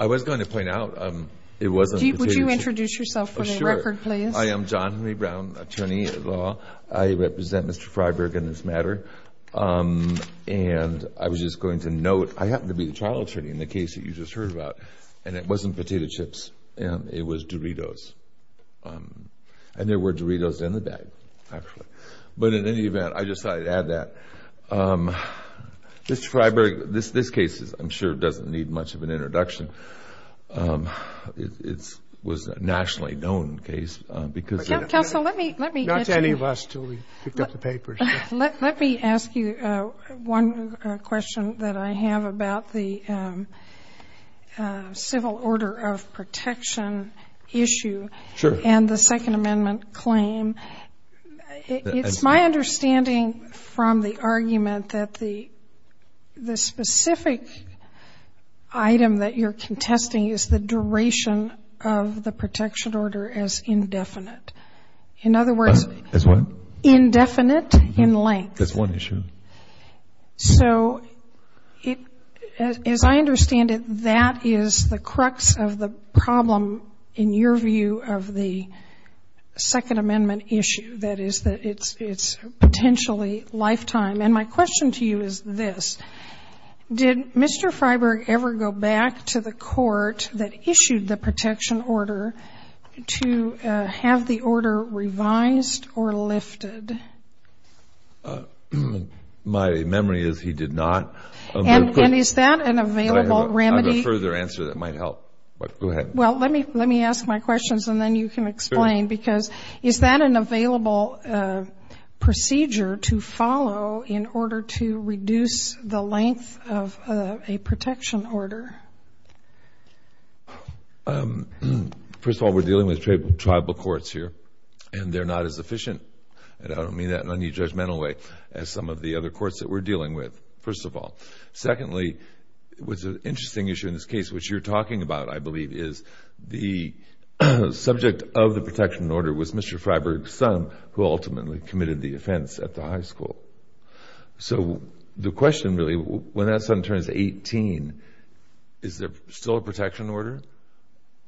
I was going to point out, it wasn't... Steve, would you introduce yourself for the record, please? Sure. I am John Henry Brown, attorney at law. I represent Mr. Fryberg in this matter. And I was just going to note, I happen to be the trial attorney in the case that you just heard about. And it wasn't potato chips. It was Doritos. And there were Doritos in the bag, actually. But in any event, I just thought I'd add that. Mr. Fryberg, this case, I'm sure, doesn't need much of an introduction. It was a nationally known case because... Counsel, let me... Not to any of us until we pick up the papers. Let me ask you one question that I have about the civil order of protection issue. Sure. And the Second Amendment claim. It's my understanding from the argument that the specific item that you're contesting is the duration of the protection order as indefinite. In other words... As what? Indefinite in length. That's one issue. So as I understand it, that is the crux of the problem, in your view, of the Second Amendment issue. That is that it's potentially lifetime. And my question to you is this. Did Mr. Fryberg ever go back to the court that issued the protection order to have the order revised or lifted? My memory is he did not. And is that an available remedy? I have a further answer that might help. Go ahead. Well, let me ask my questions, and then you can explain. Because is that an available procedure to follow in order to reduce the length of a protection order? First of all, we're dealing with tribal courts here, and they're not as efficient. And I don't mean that in any judgmental way as some of the other courts that we're dealing with, first of all. Secondly, it was an interesting issue in this case. What you're talking about, I believe, is the subject of the protection order was Mr. Fryberg's son, who ultimately committed the offense at the high school. So the question really, when that son turns 18, is there still a protection order?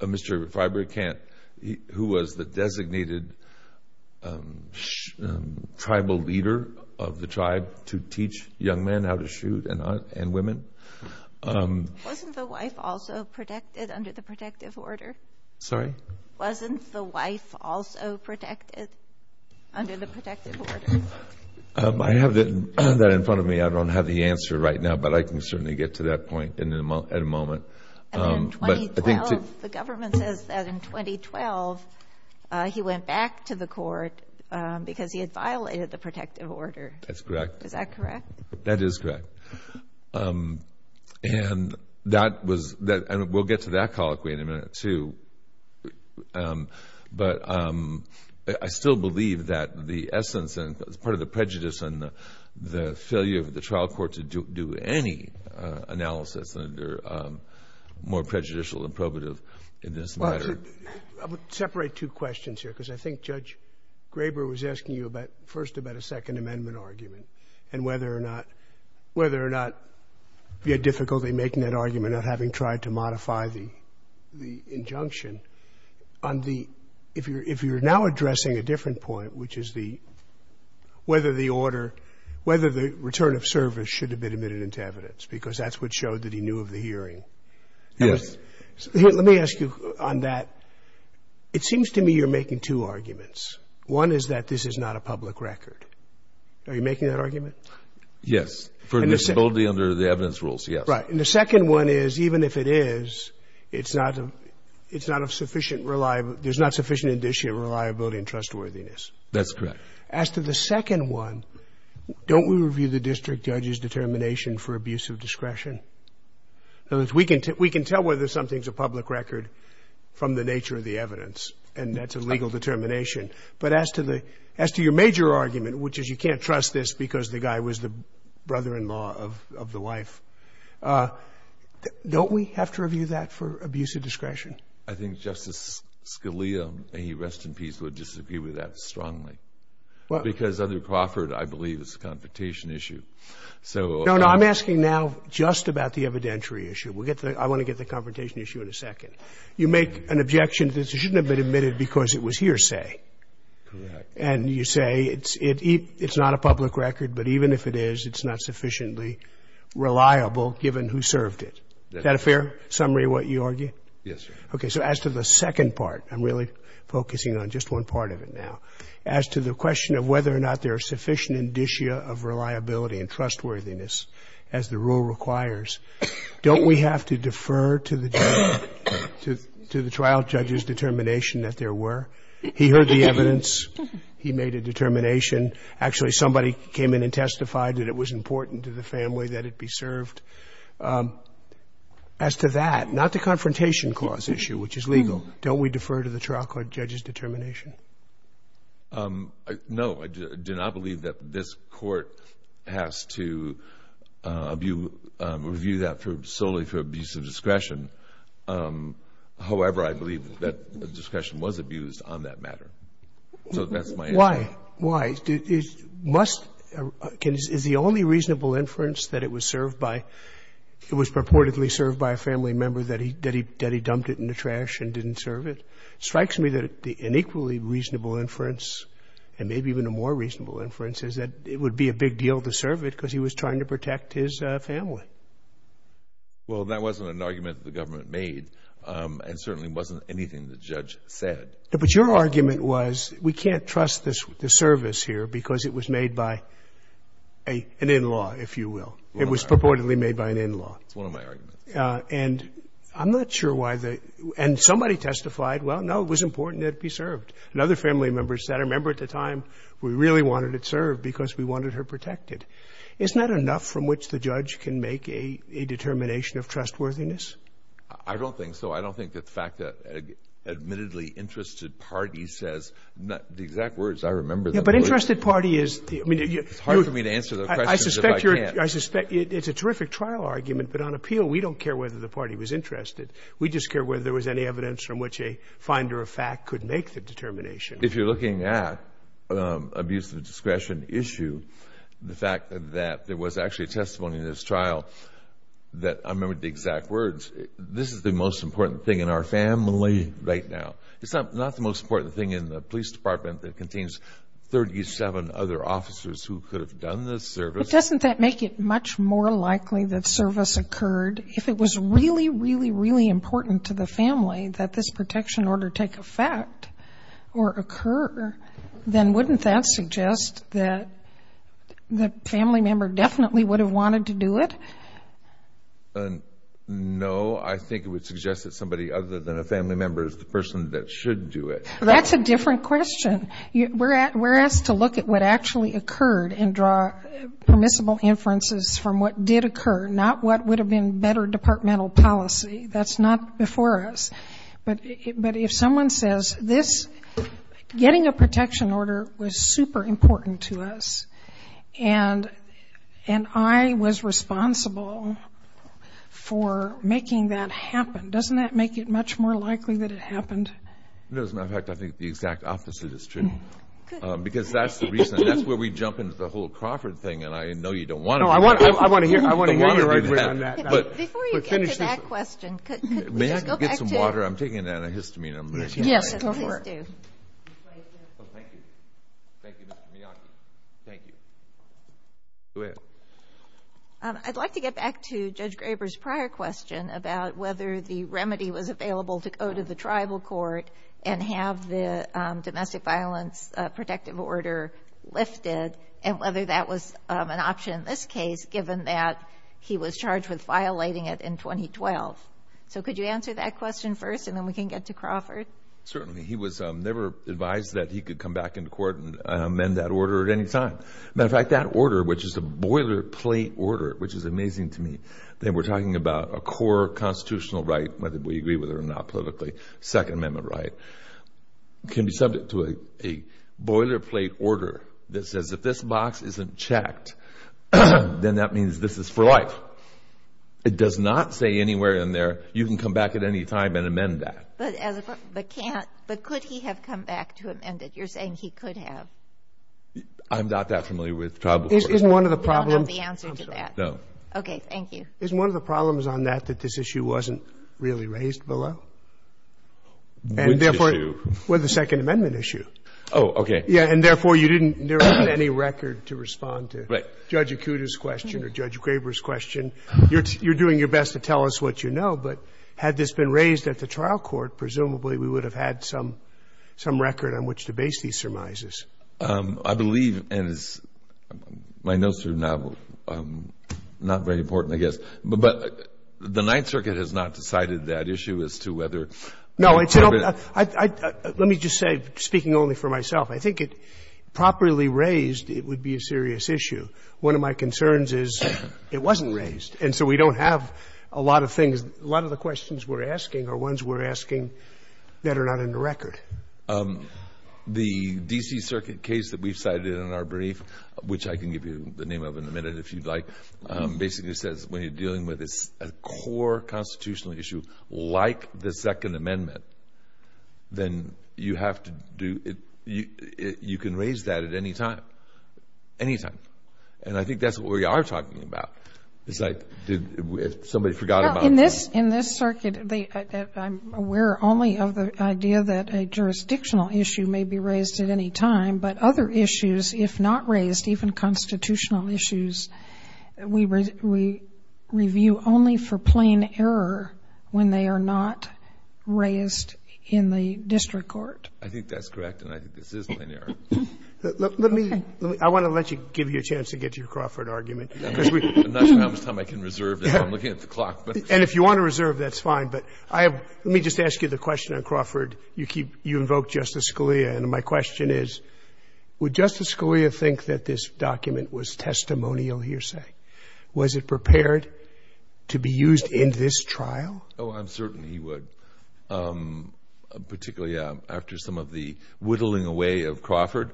Mr. Fryberg can't, who was the designated tribal leader of the tribe to teach young men how to shoot and women. Wasn't the wife also protected under the protective order? Sorry? Wasn't the wife also protected under the protective order? I have that in front of me. I don't have the answer right now, but I can certainly get to that point in a moment. In 2012, the government says that in 2012, he went back to the court because he had violated the protective order. That's correct. Is that correct? That is correct. And we'll get to that colloquy in a minute, too. But I still believe that the essence and part of the prejudice and the failure of the trial court to do any analysis under more prejudicial and probative in this matter. I would separate two questions here because I think Judge Graber was asking you first about a Second Amendment argument and whether or not you had difficulty making that argument of having tried to modify the injunction. If you're now addressing a different point, which is whether the return of service should have been admitted into evidence, because that's what showed that he knew of the hearing. Yes. Let me ask you on that. It seems to me you're making two arguments. One is that this is not a public record. Are you making that argument? Yes. For visibility under the evidence rules, yes. Right. And the second one is even if it is, it's not a sufficient reliable – there's not sufficient indicia of reliability and trustworthiness. That's correct. As to the second one, don't we review the district judge's determination for abuse of discretion? We can tell whether something's a public record from the nature of the evidence, and that's a legal determination. But as to the – as to your major argument, which is you can't trust this because the guy was the brother-in-law of the wife, don't we have to review that for abuse of discretion? I think Justice Scalia, may he rest in peace, would disagree with that strongly. Well – Because under Crawford, I believe, it's a confrontation issue. So – No, no. I'm asking now just about the evidentiary issue. We'll get to that. I want to get to the confrontation issue in a second. You make an objection that shouldn't have been admitted because it was hearsay. Correct. And you say it's not a public record, but even if it is, it's not sufficiently reliable given who served it. Is that a fair summary of what you argue? Yes, sir. Okay. So as to the second part, I'm really focusing on just one part of it now. As to the question of whether or not there are sufficient indicia of reliability and trustworthiness, as the rule requires, don't we have to defer to the judge? To the trial judge's determination that there were. He heard the evidence. He made a determination. Actually, somebody came in and testified that it was important to the family that it be served. As to that, not the confrontation clause issue, which is legal, don't we defer to the trial court judge's determination? No. I do not believe that this Court has to review that solely for abuse of discretion. However, I believe that discretion was abused on that matter. So that's my answer. Why? Why? Is the only reasonable inference that it was served by — it was purportedly served by a family member, that he dumped it in the trash and didn't serve it? It strikes me that an equally reasonable inference, and maybe even a more reasonable inference, is that it would be a big deal to serve it because he was trying to protect his family. Well, that wasn't an argument that the government made, and certainly wasn't anything the judge said. But your argument was, we can't trust the service here because it was made by an in-law, if you will. It was purportedly made by an in-law. It's one of my arguments. And I'm not sure why the — and somebody testified, well, no, it was important that it be served. And other family members said, I remember at the time, we really wanted it served because we wanted her protected. Isn't that enough from which the judge can make a determination of trustworthiness? I don't think so. I don't think that the fact that an admittedly interested party says — the exact words I remember — Yeah, but interested party is — It's hard for me to answer their questions if I can't. I suspect it's a terrific trial argument. But on appeal, we don't care whether the party was interested. We just care whether there was any evidence from which a finder of fact could make the determination. If you're looking at abuse of discretion issue, the fact that there was actually testimony in this trial that — I remember the exact words. This is the most important thing in our family right now. It's not the most important thing in the police department that contains 37 other officers who could have done this service. Doesn't that make it much more likely that service occurred? If it was really, really, really important to the family that this protection order take effect or occur, then wouldn't that suggest that the family member definitely would have wanted to do it? No. I think it would suggest that somebody other than a family member is the person that should do it. That's a different question. We're asked to look at what actually occurred and draw permissible inferences from what did occur, not what would have been better departmental policy. That's not before us. But if someone says this — getting a protection order was super important to us, and I was responsible for making that happen, doesn't that make it much more likely that it happened? As a matter of fact, I think the exact opposite is true. Good. Because that's the reason. That's where we jump into the whole Crawford thing, and I know you don't want to hear that. No, I want to hear you right away on that. Before you get to that question, could we just go back to — May I get some water? I'm taking an antihistamine. Yes, go for it. Thank you. Thank you, Mr. Miyake. Thank you. Go ahead. I'd like to get back to Judge Graber's prior question about whether the remedy was available to go to the tribal court and have the domestic violence protective order lifted and whether that was an option in this case, given that he was charged with violating it in 2012. So could you answer that question first, and then we can get to Crawford? Certainly. He was never advised that he could come back into court and amend that order at any time. As a matter of fact, that order, which is a boilerplate order, which is amazing to me, that we're talking about a core constitutional right, whether we agree with it or not politically, Second Amendment right, can be subject to a boilerplate order that says if this box isn't checked, then that means this is for life. It does not say anywhere in there you can come back at any time and amend that. But could he have come back to amend it? You're saying he could have. I'm not that familiar with tribal courts. You don't have the answer to that. No. Okay. Thank you. Isn't one of the problems on that that this issue wasn't really raised below? Which issue? Well, the Second Amendment issue. Oh, okay. Yeah, and therefore you didn't – there isn't any record to respond to. Right. Judge Acuda's question or Judge Graber's question. You're doing your best to tell us what you know, but had this been raised at the trial court, presumably we would have had some record on which to base these surmises. I believe, and my notes are not very important, I guess, but the Ninth Circuit has not decided that issue as to whether – No, it's – let me just say, speaking only for myself, I think if properly raised, it would be a serious issue. One of my concerns is it wasn't raised, and so we don't have a lot of things. A lot of the questions we're asking are ones we're asking that are not in the record. The D.C. Circuit case that we've cited in our brief, which I can give you the name of in a minute if you'd like, basically says when you're dealing with a core constitutional issue like the Second Amendment, then you have to do – you can raise that at any time. Any time. And I think that's what we are talking about. It's like somebody forgot about it. In this circuit, I'm aware only of the idea that a jurisdictional issue may be raised at any time, but other issues, if not raised, even constitutional issues, we review only for plain error when they are not raised in the district court. I think that's correct, and I think this is plain error. Let me – I want to let you give you a chance to get your Crawford argument. I'm not sure how much time I can reserve if I'm looking at the clock. And if you want to reserve, that's fine. But I have – let me just ask you the question on Crawford. You keep – you invoke Justice Scalia, and my question is, would Justice Scalia think that this document was testimonial hearsay? Was it prepared to be used in this trial? Oh, I'm certain he would, particularly after some of the whittling away of Crawford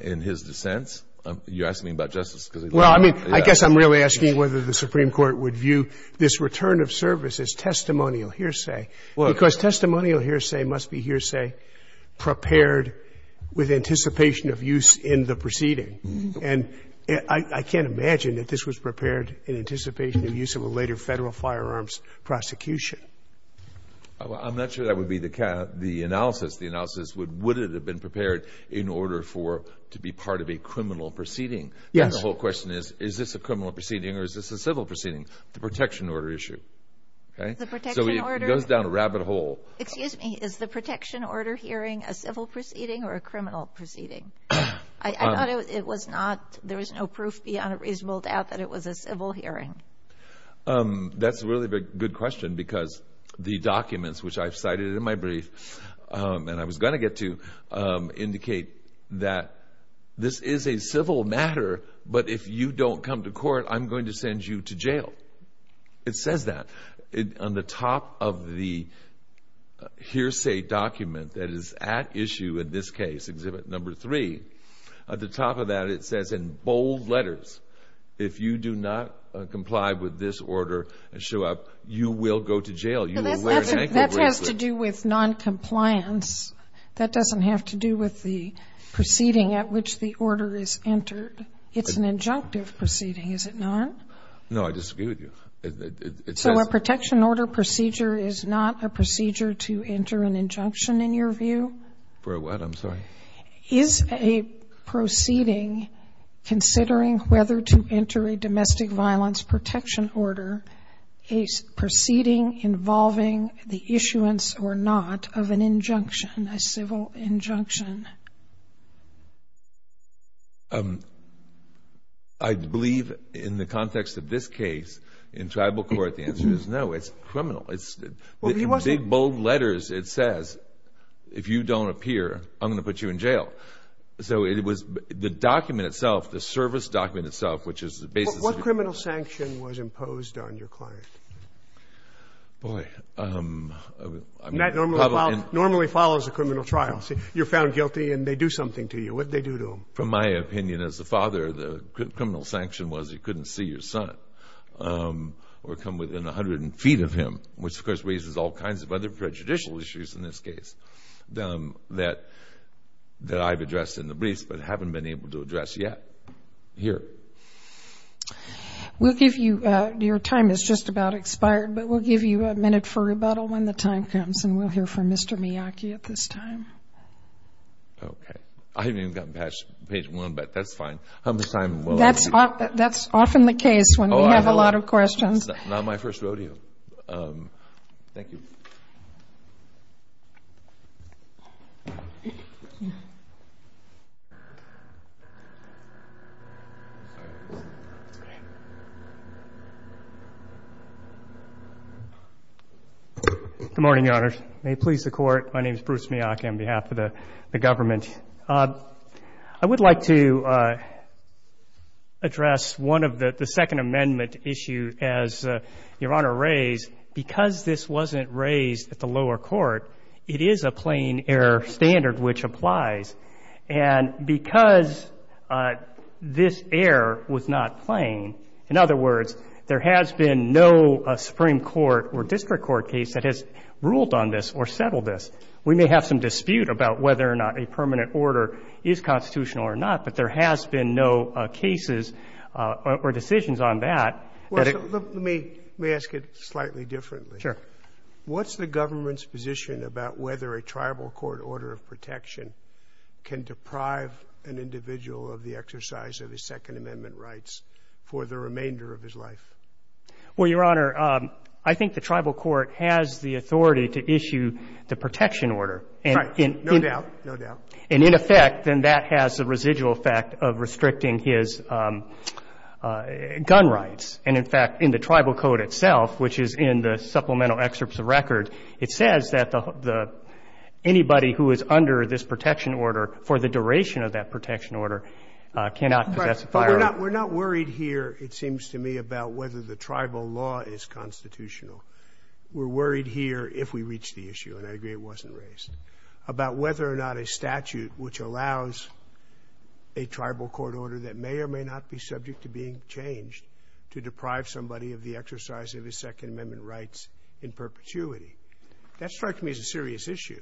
in his dissents. You're asking me about Justice Scalia? Well, I mean, I guess I'm really asking whether the Supreme Court would view this return of service as testimonial hearsay, because testimonial hearsay must be hearsay prepared with anticipation of use in the proceeding. And I can't imagine that this was prepared in anticipation of use of a later Federal firearms prosecution. I'm not sure that would be the analysis. Would it have been prepared in order for – to be part of a criminal proceeding? Yes. And the whole question is, is this a criminal proceeding or is this a civil proceeding? The protection order issue, okay? The protection order. So it goes down a rabbit hole. Excuse me. Is the protection order hearing a civil proceeding or a criminal proceeding? I thought it was not – there was no proof beyond a reasonable doubt that it was a civil hearing. That's a really good question, because the documents which I've cited in my brief and I was going to get to indicate that this is a civil matter, but if you don't come to court, I'm going to send you to jail. It says that on the top of the hearsay document that is at issue in this case, Exhibit No. 3. At the top of that, it says in bold letters, if you do not comply with this order and show up, you will go to jail. That has to do with noncompliance. That doesn't have to do with the proceeding at which the order is entered. It's an injunctive proceeding, is it not? No, I disagree with you. So a protection order procedure is not a procedure to enter an injunction, in your view? For what? I'm sorry. Is a proceeding considering whether to enter a domestic violence protection order a proceeding involving the issuance or not of an injunction, a civil injunction? I believe in the context of this case, in tribal court, the answer is no. It's criminal. In big, bold letters it says, if you don't appear, I'm going to put you in jail. So it was the document itself, the service document itself, which is the basis. What criminal sanction was imposed on your client? Boy. That normally follows a criminal trial. You're found guilty and they do something to you. What did they do to him? From my opinion as a father, the criminal sanction was you couldn't see your son or come within 100 feet of him, which, of course, raises all kinds of other prejudicial issues in this case that I've addressed in the briefs but haven't been able to address yet here. We'll give you ñ your time is just about expired, but we'll give you a minute for rebuttal when the time comes and we'll hear from Mr. Miyake at this time. Okay. I haven't even gotten past page one, but that's fine. That's often the case when we have a lot of questions. This is not my first rodeo. Thank you. Good morning, Your Honors. May it please the Court, my name is Bruce Miyake on behalf of the government. I would like to address one of the second amendment issue as Your Honor raised. Because this wasn't raised at the lower court, it is a plain error standard which applies. And because this error was not plain, in other words, there has been no Supreme Court or district court case that has ruled on this or settled this. We may have some dispute about whether or not a permanent order is constitutional or not, but there has been no cases or decisions on that. Let me ask it slightly differently. Sure. What's the government's position about whether a tribal court order of protection can deprive an individual of the exercise of his second amendment rights for the remainder of his life? Well, Your Honor, I think the tribal court has the authority to issue the protection order. Right, no doubt, no doubt. And in effect, then that has the residual effect of restricting his gun rights. And in fact, in the tribal code itself, which is in the supplemental excerpts of record, it says that anybody who is under this protection order for the duration of that protection order cannot possess a firearm. We're not worried here, it seems to me, about whether the tribal law is constitutional. We're worried here, if we reach the issue, and I agree it wasn't raised, about whether or not a statute which allows a tribal court order that may or may not be subject to being changed to deprive somebody of the exercise of his second amendment rights in perpetuity. That strikes me as a serious issue.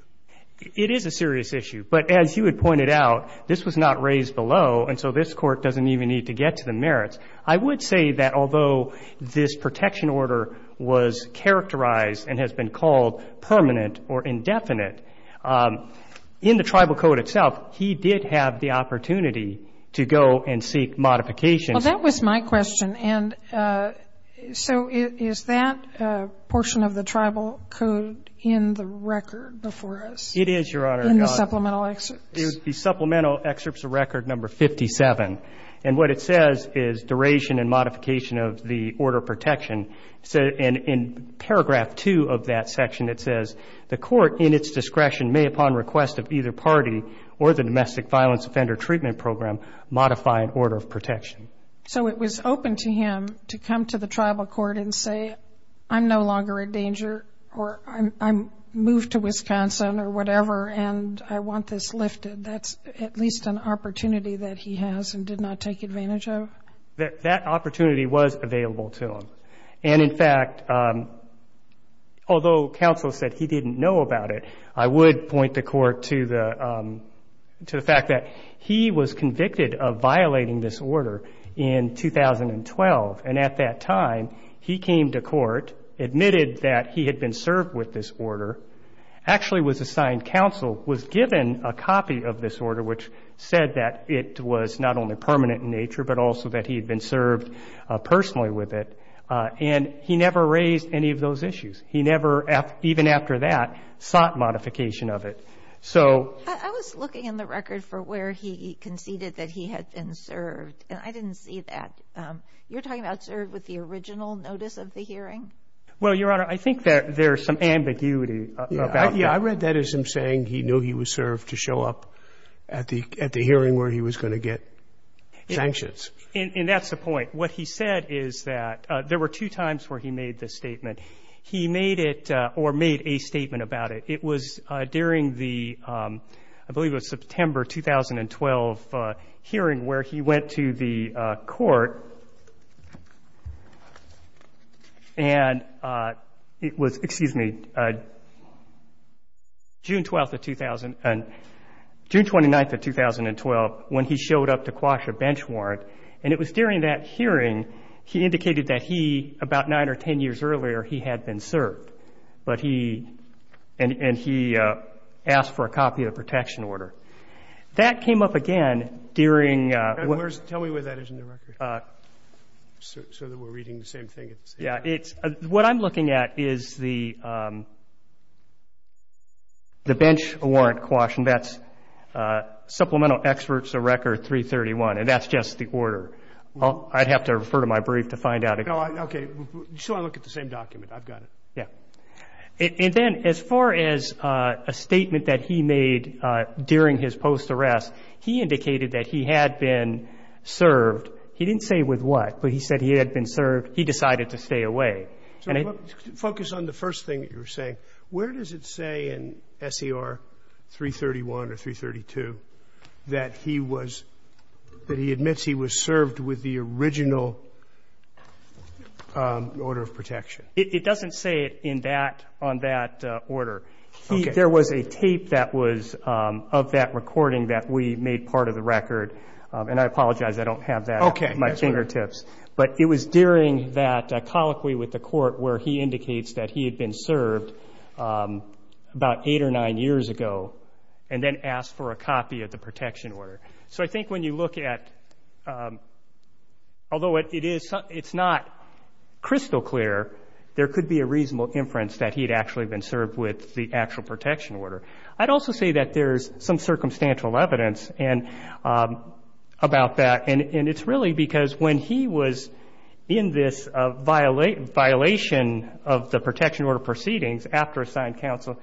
It is a serious issue. But as you had pointed out, this was not raised below, and so this court doesn't even need to get to the merits. I would say that although this protection order was characterized and has been called permanent or indefinite, in the tribal code itself, he did have the opportunity to go and seek modification. Well, that was my question. And so is that portion of the tribal code in the record before us? It is, Your Honor. In the supplemental excerpts. The supplemental excerpts are record number 57, and what it says is duration and modification of the order of protection. And in paragraph two of that section, it says, the court in its discretion may, upon request of either party or the domestic violence offender treatment program, modify an order of protection. So it was open to him to come to the tribal court and say, I'm no longer a danger or I'm moved to Wisconsin or whatever and I want this lifted. That's at least an opportunity that he has and did not take advantage of? That opportunity was available to him. And, in fact, although counsel said he didn't know about it, I would point the court to the fact that he was convicted of violating this order in 2012, and at that time he came to court, admitted that he had been served with this order, actually was assigned counsel, was given a copy of this order, which said that it was not only permanent in nature, but also that he had been served personally with it, and he never raised any of those issues. He never, even after that, sought modification of it. I was looking in the record for where he conceded that he had been served, and I didn't see that. You're talking about served with the original notice of the hearing? Well, Your Honor, I think there's some ambiguity about that. Yeah. I read that as him saying he knew he was served to show up at the hearing where he was going to get sanctions. And that's the point. What he said is that there were two times where he made this statement. He made it or made a statement about it. It was during the, I believe it was September 2012 hearing where he went to the and it was, excuse me, June 12th of 2000, June 29th of 2012 when he showed up to quash a bench warrant, and it was during that hearing he indicated that he, about nine or ten years earlier, he had been served. But he, and he asked for a copy of the protection order. That came up again during. Tell me where that is in the record so that we're reading the same thing. Yeah. What I'm looking at is the bench warrant quash, and that's Supplemental Experts of Record 331, and that's just the order. I'd have to refer to my brief to find out. Okay. You still want to look at the same document. I've got it. Yeah. And then as far as a statement that he made during his post-arrest, he indicated that he had been served. He didn't say with what, but he said he had been served. He decided to stay away. So focus on the first thing that you were saying. Where does it say in SER 331 or 332 that he was, that he admits he was served with the original order of protection? It doesn't say it in that, on that order. There was a tape that was of that recording that we made part of the record, Okay. But it was during that colloquy with the court where he indicates that he had been served about eight or nine years ago and then asked for a copy of the protection order. So I think when you look at, although it is, it's not crystal clear, there could be a reasonable inference that he had actually been served with the actual protection order. I'd also say that there's some circumstantial evidence about that, and it's really because when he was in this violation of the protection order proceedings after assigned counsel,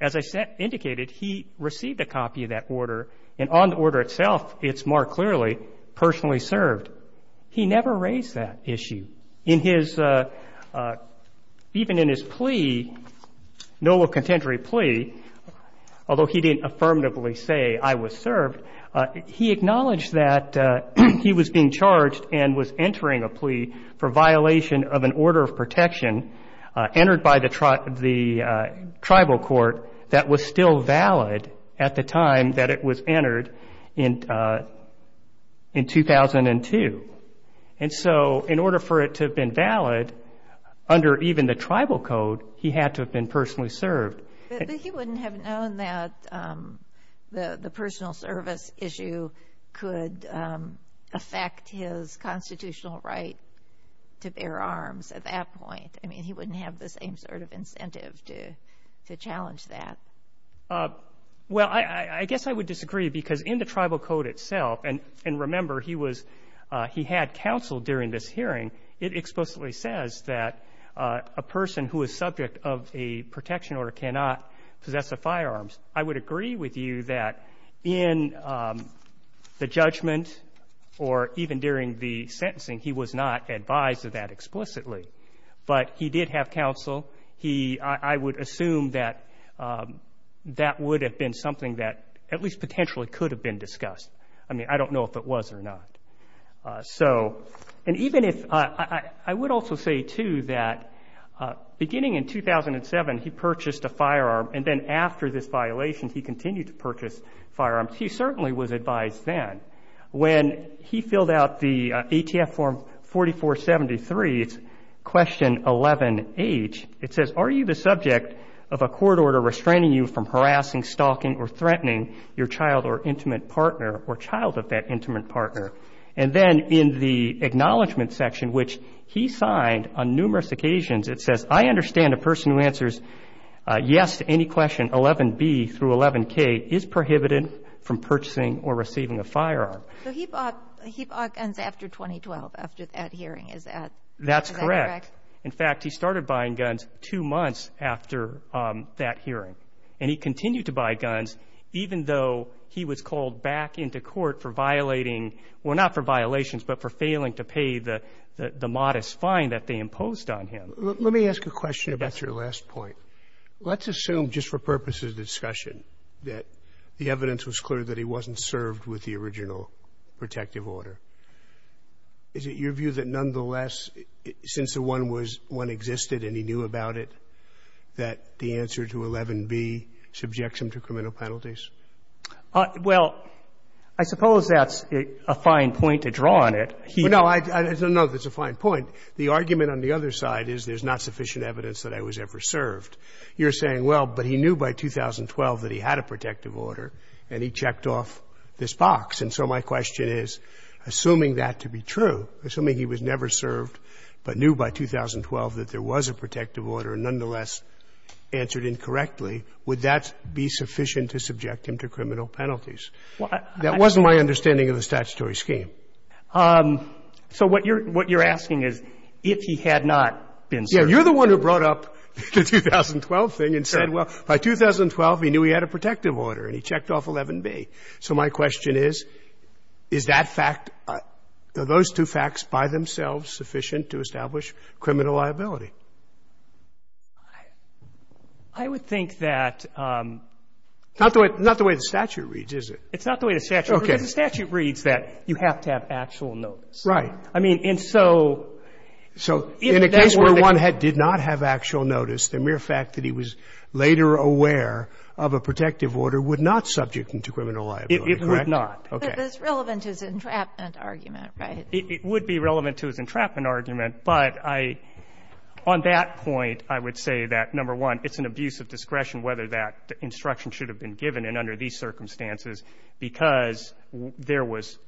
as I said, indicated he received a copy of that order, and on the order itself, it's more clearly personally served. He never raised that issue. In his, even in his plea, noble contemporary plea, although he didn't affirmatively say I was served, he acknowledged that he was being charged and was entering a plea for violation of an order of protection entered by the tribal court that was still valid at the time that it was entered in 2002. And so in order for it to have been valid under even the tribal code, he had to have been personally served. But he wouldn't have known that the personal service issue could affect his constitutional right to bear arms at that point. I mean, he wouldn't have the same sort of incentive to challenge that. Well, I guess I would disagree, because in the tribal code itself, and remember he was, he had counsel during this hearing, it explicitly says that a person who is subject of a protection order cannot possess a firearm. I would agree with you that in the judgment or even during the sentencing, he was not advised of that explicitly. But he did have counsel. He, I would assume that that would have been something that at least potentially could have been discussed. I mean, I don't know if it was or not. So, and even if, I would also say, too, that beginning in 2007, he purchased a firearm, and then after this violation, he continued to purchase firearms. He certainly was advised then. When he filled out the ATF form 4473, it's question 11H. It says, are you the subject of a court order restraining you from harassing, stalking, or threatening your child or intimate partner or child of that intimate partner? And then in the acknowledgment section, which he signed on numerous occasions, it says, I understand a person who answers yes to any question 11B through 11K is prohibited from purchasing or receiving a firearm. So he bought guns after 2012, after that hearing. Is that correct? That's correct. In fact, he started buying guns two months after that hearing. And he continued to buy guns even though he was called back into court for violating, well, not for violations, but for failing to pay the modest fine that they imposed on him. Let me ask a question about your last point. Let's assume, just for purposes of discussion, that the evidence was clear that he wasn't served with the original protective order. Is it your view that nonetheless, since the one existed and he knew about it, that the answer to 11B subjects him to criminal penalties? Well, I suppose that's a fine point to draw on it. No, I don't know if it's a fine point. The argument on the other side is there's not sufficient evidence that I was ever served. You're saying, well, but he knew by 2012 that he had a protective order, and he checked off this box. And so my question is, assuming that to be true, assuming he was never served but knew by 2012 that there was a protective order and nonetheless answered incorrectly, would that be sufficient to subject him to criminal penalties? That wasn't my understanding of the statutory scheme. So what you're asking is if he had not been served. Yeah. You're the one who brought up the 2012 thing and said, well, by 2012, he knew he had a protective order, and he checked off 11B. So my question is, is that fact, are those two facts by themselves sufficient to establish criminal liability? I would think that. Not the way the statute reads, is it? It's not the way the statute reads. Because the statute reads that you have to have actual notice. Right. I mean, and so. So in a case where one did not have actual notice, the mere fact that he was later aware of a protective order would not subject him to criminal liability, correct? It would not. Okay. But it's relevant to his entrapment argument, right? It would be relevant to his entrapment argument. But I, on that point, I would say that, number one, it's an abuse of discretion whether that instruction should have been given. And under these circumstances, because there was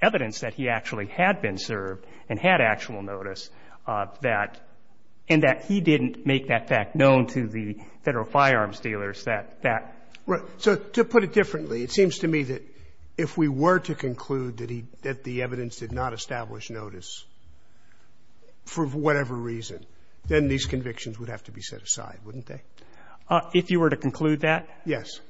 evidence that he actually had been served and had actual notice, that, and that he didn't make that fact known to the Federal firearms dealers, that, that. Right. So to put it differently, it seems to me that if we were to conclude that he, that the evidence did not establish notice for whatever reason, then these convictions would have to be set aside, wouldn't they? If you were to conclude that? Yes.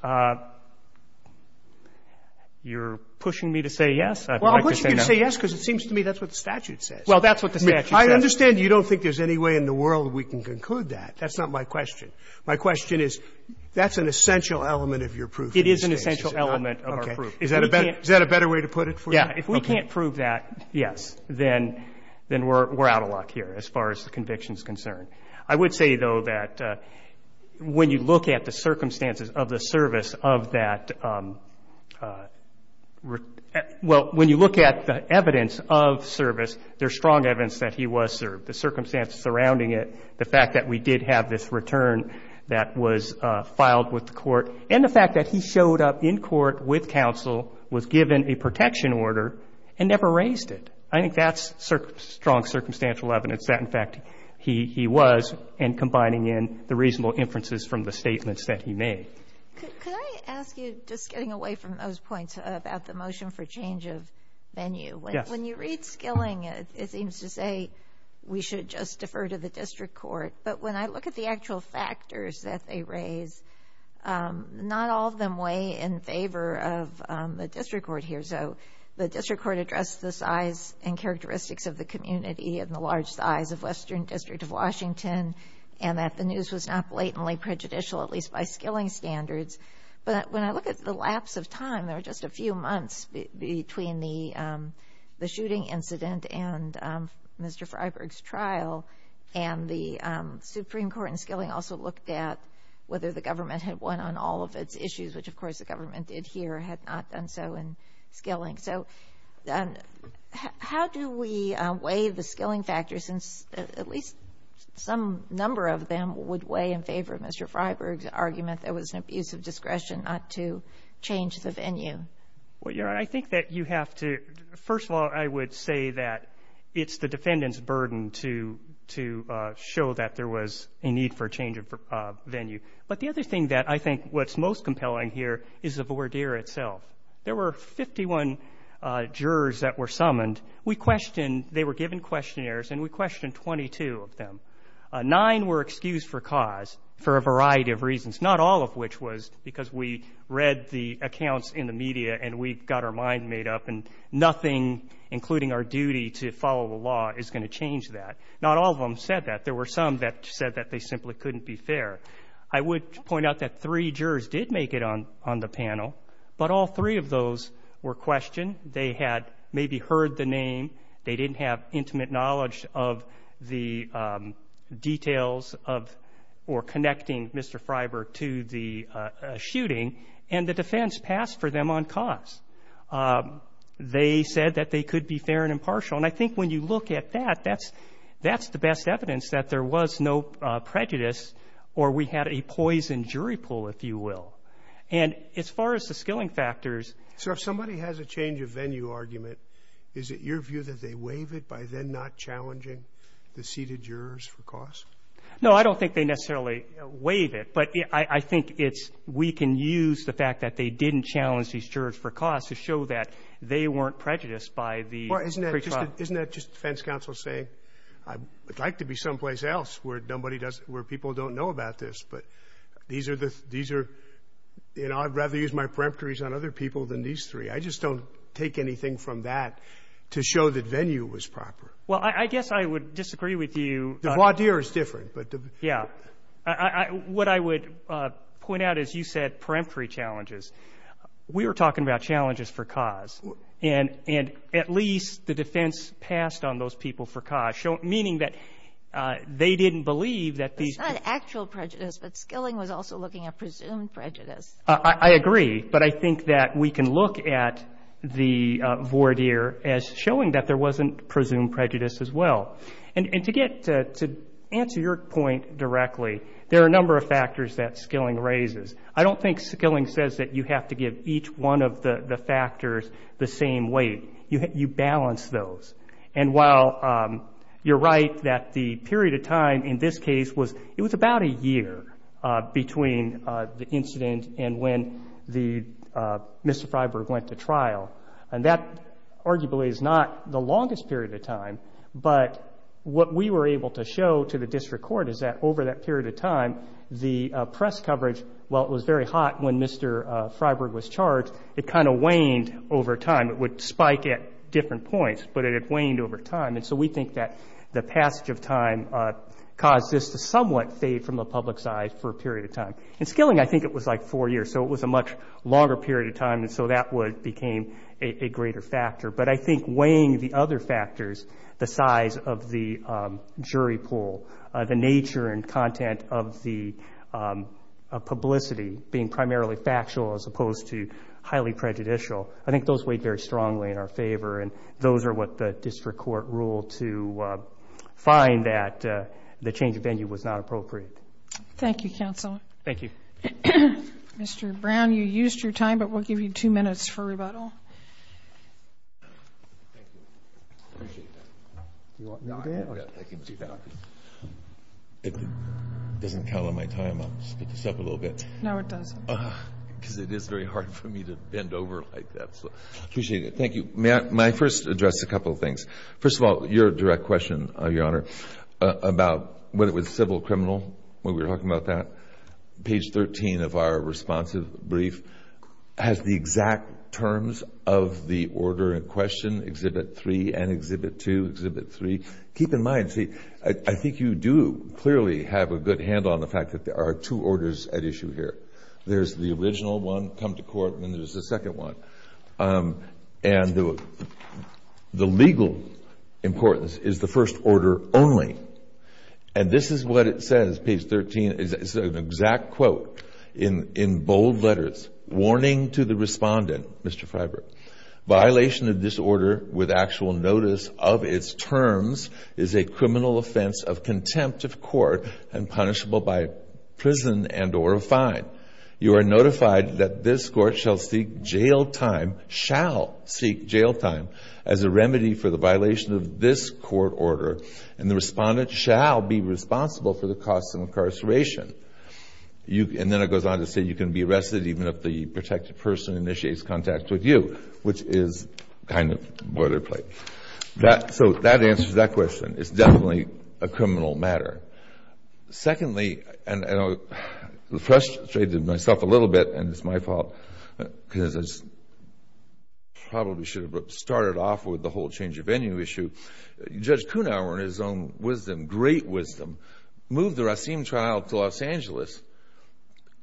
You're pushing me to say yes? I'd like to say no. Well, I'm pushing you to say yes because it seems to me that's what the statute says. Well, that's what the statute says. I understand you don't think there's any way in the world we can conclude that. That's not my question. My question is, that's an essential element of your proof. It is an essential element of our proof. Okay. Is that a better way to put it for you? Yeah. If we can't prove that, yes, then we're out of luck here as far as the conviction is concerned. I would say, though, that when you look at the circumstances of the service of that – well, when you look at the evidence of service, there's strong evidence that he was served. The circumstances surrounding it, the fact that we did have this return that was filed with the court, and the fact that he showed up in court with counsel, was given a protection order, and never raised it. I think that's strong circumstantial evidence that, in fact, he was, and combining in the reasonable inferences from the statements that he made. Could I ask you, just getting away from those points about the motion for change of venue? Yes. Well, when you read skilling, it seems to say we should just defer to the district court. But when I look at the actual factors that they raise, not all of them weigh in favor of the district court here. So the district court addressed the size and characteristics of the community and the large size of Western District of Washington, and that the news was not blatantly prejudicial, at least by skilling standards. But when I look at the lapse of time, there were just a few months between the shooting incident and Mr. Freyberg's trial, and the Supreme Court in skilling also looked at whether the government had won on all of its issues, which, of course, the government did here, had not done so in skilling. So how do we weigh the skilling factors, since at least some number of them would weigh in favor of Mr. Freyberg's argument that it was an abuse of discretion not to change the venue? Well, Your Honor, I think that you have to – first of all, I would say that it's the defendant's burden to show that there was a need for a change of venue. But the other thing that I think what's most compelling here is the voir dire itself. There were 51 jurors that were summoned. We questioned – they were given questionnaires, and we questioned 22 of them. Nine were excused for cause for a variety of reasons, not all of which was because we read the accounts in the media and we got our mind made up and nothing, including our duty to follow the law, is going to change that. Not all of them said that. There were some that said that they simply couldn't be fair. I would point out that three jurors did make it on the panel, but all three of those were questioned. They had maybe heard the name. They didn't have intimate knowledge of the details of or connecting Mr. Freiberg to the shooting. And the defense passed for them on cause. They said that they could be fair and impartial. And I think when you look at that, that's the best evidence that there was no prejudice or we had a poison jury pool, if you will. And as far as the skilling factors – So if somebody has a change of venue argument, is it your view that they waive it by then not challenging the seated jurors for cause? No, I don't think they necessarily waive it. But I think we can use the fact that they didn't challenge these jurors for cause to show that they weren't prejudiced by the pretrial – Isn't that just defense counsel saying, I'd like to be someplace else where people don't know about this, but these are the – I'd rather use my peremptories on other people than these three. I just don't take anything from that to show that venue was proper. Well, I guess I would disagree with you. The voir dire is different. Yeah. What I would point out is you said peremptory challenges. We were talking about challenges for cause. And at least the defense passed on those people for cause, meaning that they didn't believe that these – It's not actual prejudice, but Skilling was also looking at presumed prejudice. I agree. But I think that we can look at the voir dire as showing that there wasn't presumed prejudice as well. And to answer your point directly, there are a number of factors that Skilling raises. I don't think Skilling says that you have to give each one of the factors the same weight. You balance those. And while you're right that the period of time in this case was – it was about a year between the incident and when Mr. Freiburg went to trial. And that arguably is not the longest period of time. But what we were able to show to the district court is that over that period of time, the press coverage, while it was very hot when Mr. Freiburg was charged, it kind of waned over time. It would spike at different points, but it had waned over time. And so we think that the passage of time caused this to somewhat fade from the public's eyes for a period of time. In Skilling, I think it was like four years, so it was a much longer period of time, and so that became a greater factor. But I think weighing the other factors, the size of the jury pool, the nature and content of the publicity being primarily factual as opposed to highly prejudicial, I think those weighed very strongly in our favor. And those are what the district court ruled to find that the change of venue was not appropriate. Thank you, counsel. Thank you. Mr. Brown, you used your time, but we'll give you two minutes for rebuttal. Thank you. I appreciate that. Do you want me to do it? I can do that. If it doesn't count on my time, I'll speed this up a little bit. No, it doesn't. Because it is very hard for me to bend over like that, so I appreciate it. Thank you. May I first address a couple of things? First of all, your direct question, Your Honor, about whether it was civil or criminal, when we were talking about that, page 13 of our responsive brief, has the exact terms of the order in question, Exhibit 3 and Exhibit 2, Exhibit 3. Keep in mind, see, I think you do clearly have a good handle on the fact that there are two orders at issue here. There's the original one, come to court, and then there's the second one. And the legal importance is the first order only. And this is what it says, page 13. It's an exact quote in bold letters. Warning to the respondent, Mr. Freiberg, violation of this order with actual notice of its terms is a criminal offense of contempt of court and punishable by prison and or a fine. You are notified that this court shall seek jail time, shall seek jail time, as a remedy for the violation of this court order, and the respondent shall be responsible for the costs of incarceration. And then it goes on to say you can be arrested even if the protected person initiates contact with you, which is kind of boilerplate. So that answers that question. It's definitely a criminal matter. Secondly, and I frustrated myself a little bit, and it's my fault, because I probably should have started off with the whole change of venue issue. Judge Kuhnhauer, in his own wisdom, great wisdom, moved the Racine trial to Los Angeles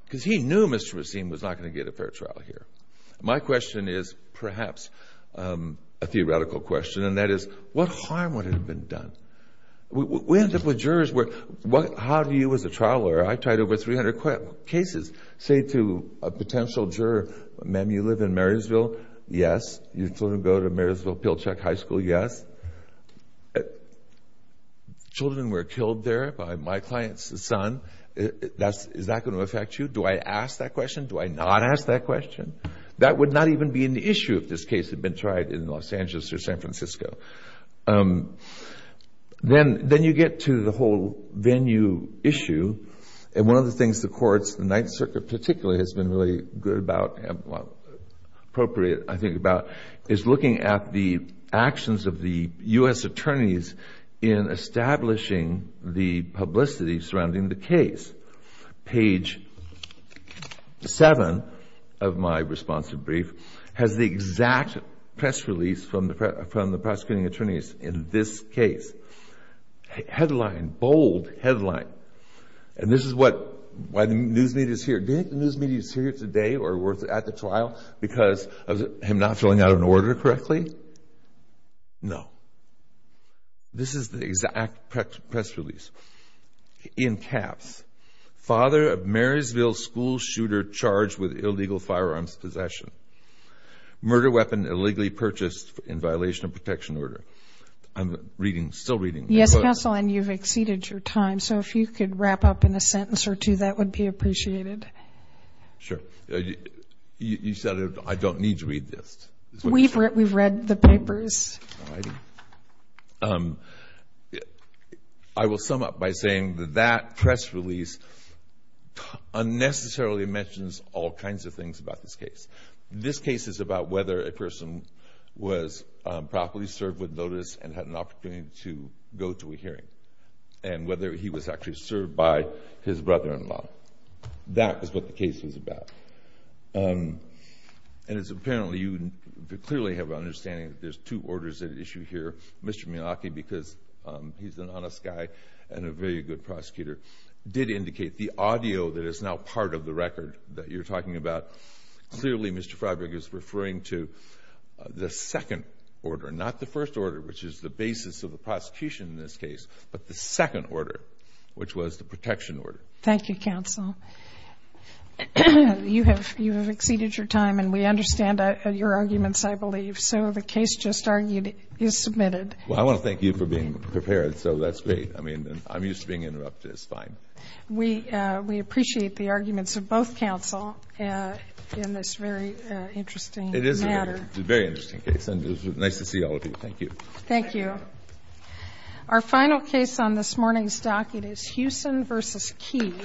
because he knew Mr. Racine was not going to get a fair trial here. My question is perhaps a theoretical question, and that is what harm would have been done? We end up with jurors where how do you, as a trial lawyer, I tried over 300 cases, say to a potential juror, ma'am, you live in Marysville, yes. Your children go to Marysville Pilchuck High School, yes. Children were killed there by my client's son. Is that going to affect you? Do I ask that question? Do I not ask that question? That would not even be an issue if this case had been tried in Los Angeles or San Francisco. Then you get to the whole venue issue, and one of the things the courts, the Ninth Circuit particularly, has been really good about, well, appropriate, I think, about is looking at the actions of the U.S. attorneys in establishing the publicity surrounding the case. Page 7 of my responsive brief has the exact press release from the prosecuting attorneys in this case. Headline, bold headline, and this is what, why the news media is here. Do you think the news media is here today or at the trial because of him not filling out an order correctly? No. This is the exact press release, in caps, FATHER OF MARYSVILLE SCHOOL SHOOTER CHARGED WITH ILLEGAL FIREARMS POSSESSION. MURDER WEAPON ILLEGALLY PURCHASED IN VIOLATION OF PROTECTION ORDER. I'm reading, still reading. Yes, counsel, and you've exceeded your time, so if you could wrap up in a sentence or two, that would be appreciated. Sure. You said I don't need to read this. We've read the papers. I will sum up by saying that that press release unnecessarily mentions all kinds of things about this case. This case is about whether a person was properly served with notice and had an opportunity to go to a hearing and whether he was actually served by his brother-in-law. That was what the case was about. And it's apparently you clearly have an understanding that there's two orders at issue here. Mr. Miyake, because he's an honest guy and a very good prosecutor, did indicate the audio that is now part of the record that you're talking about. Clearly, Mr. Freiburg is referring to the second order, not the first order, which is the basis of the prosecution in this case, but the second order, which was the protection order. Thank you, counsel. You have exceeded your time, and we understand your arguments, I believe. So the case just argued is submitted. Well, I want to thank you for being prepared, so that's great. I mean, I'm used to being interrupted. It's fine. We appreciate the arguments of both counsel in this very interesting matter. It is a very interesting case, and it was nice to see all of you. Thank you. Thank you. Our final case on this morning's docket is Hewson v. Key.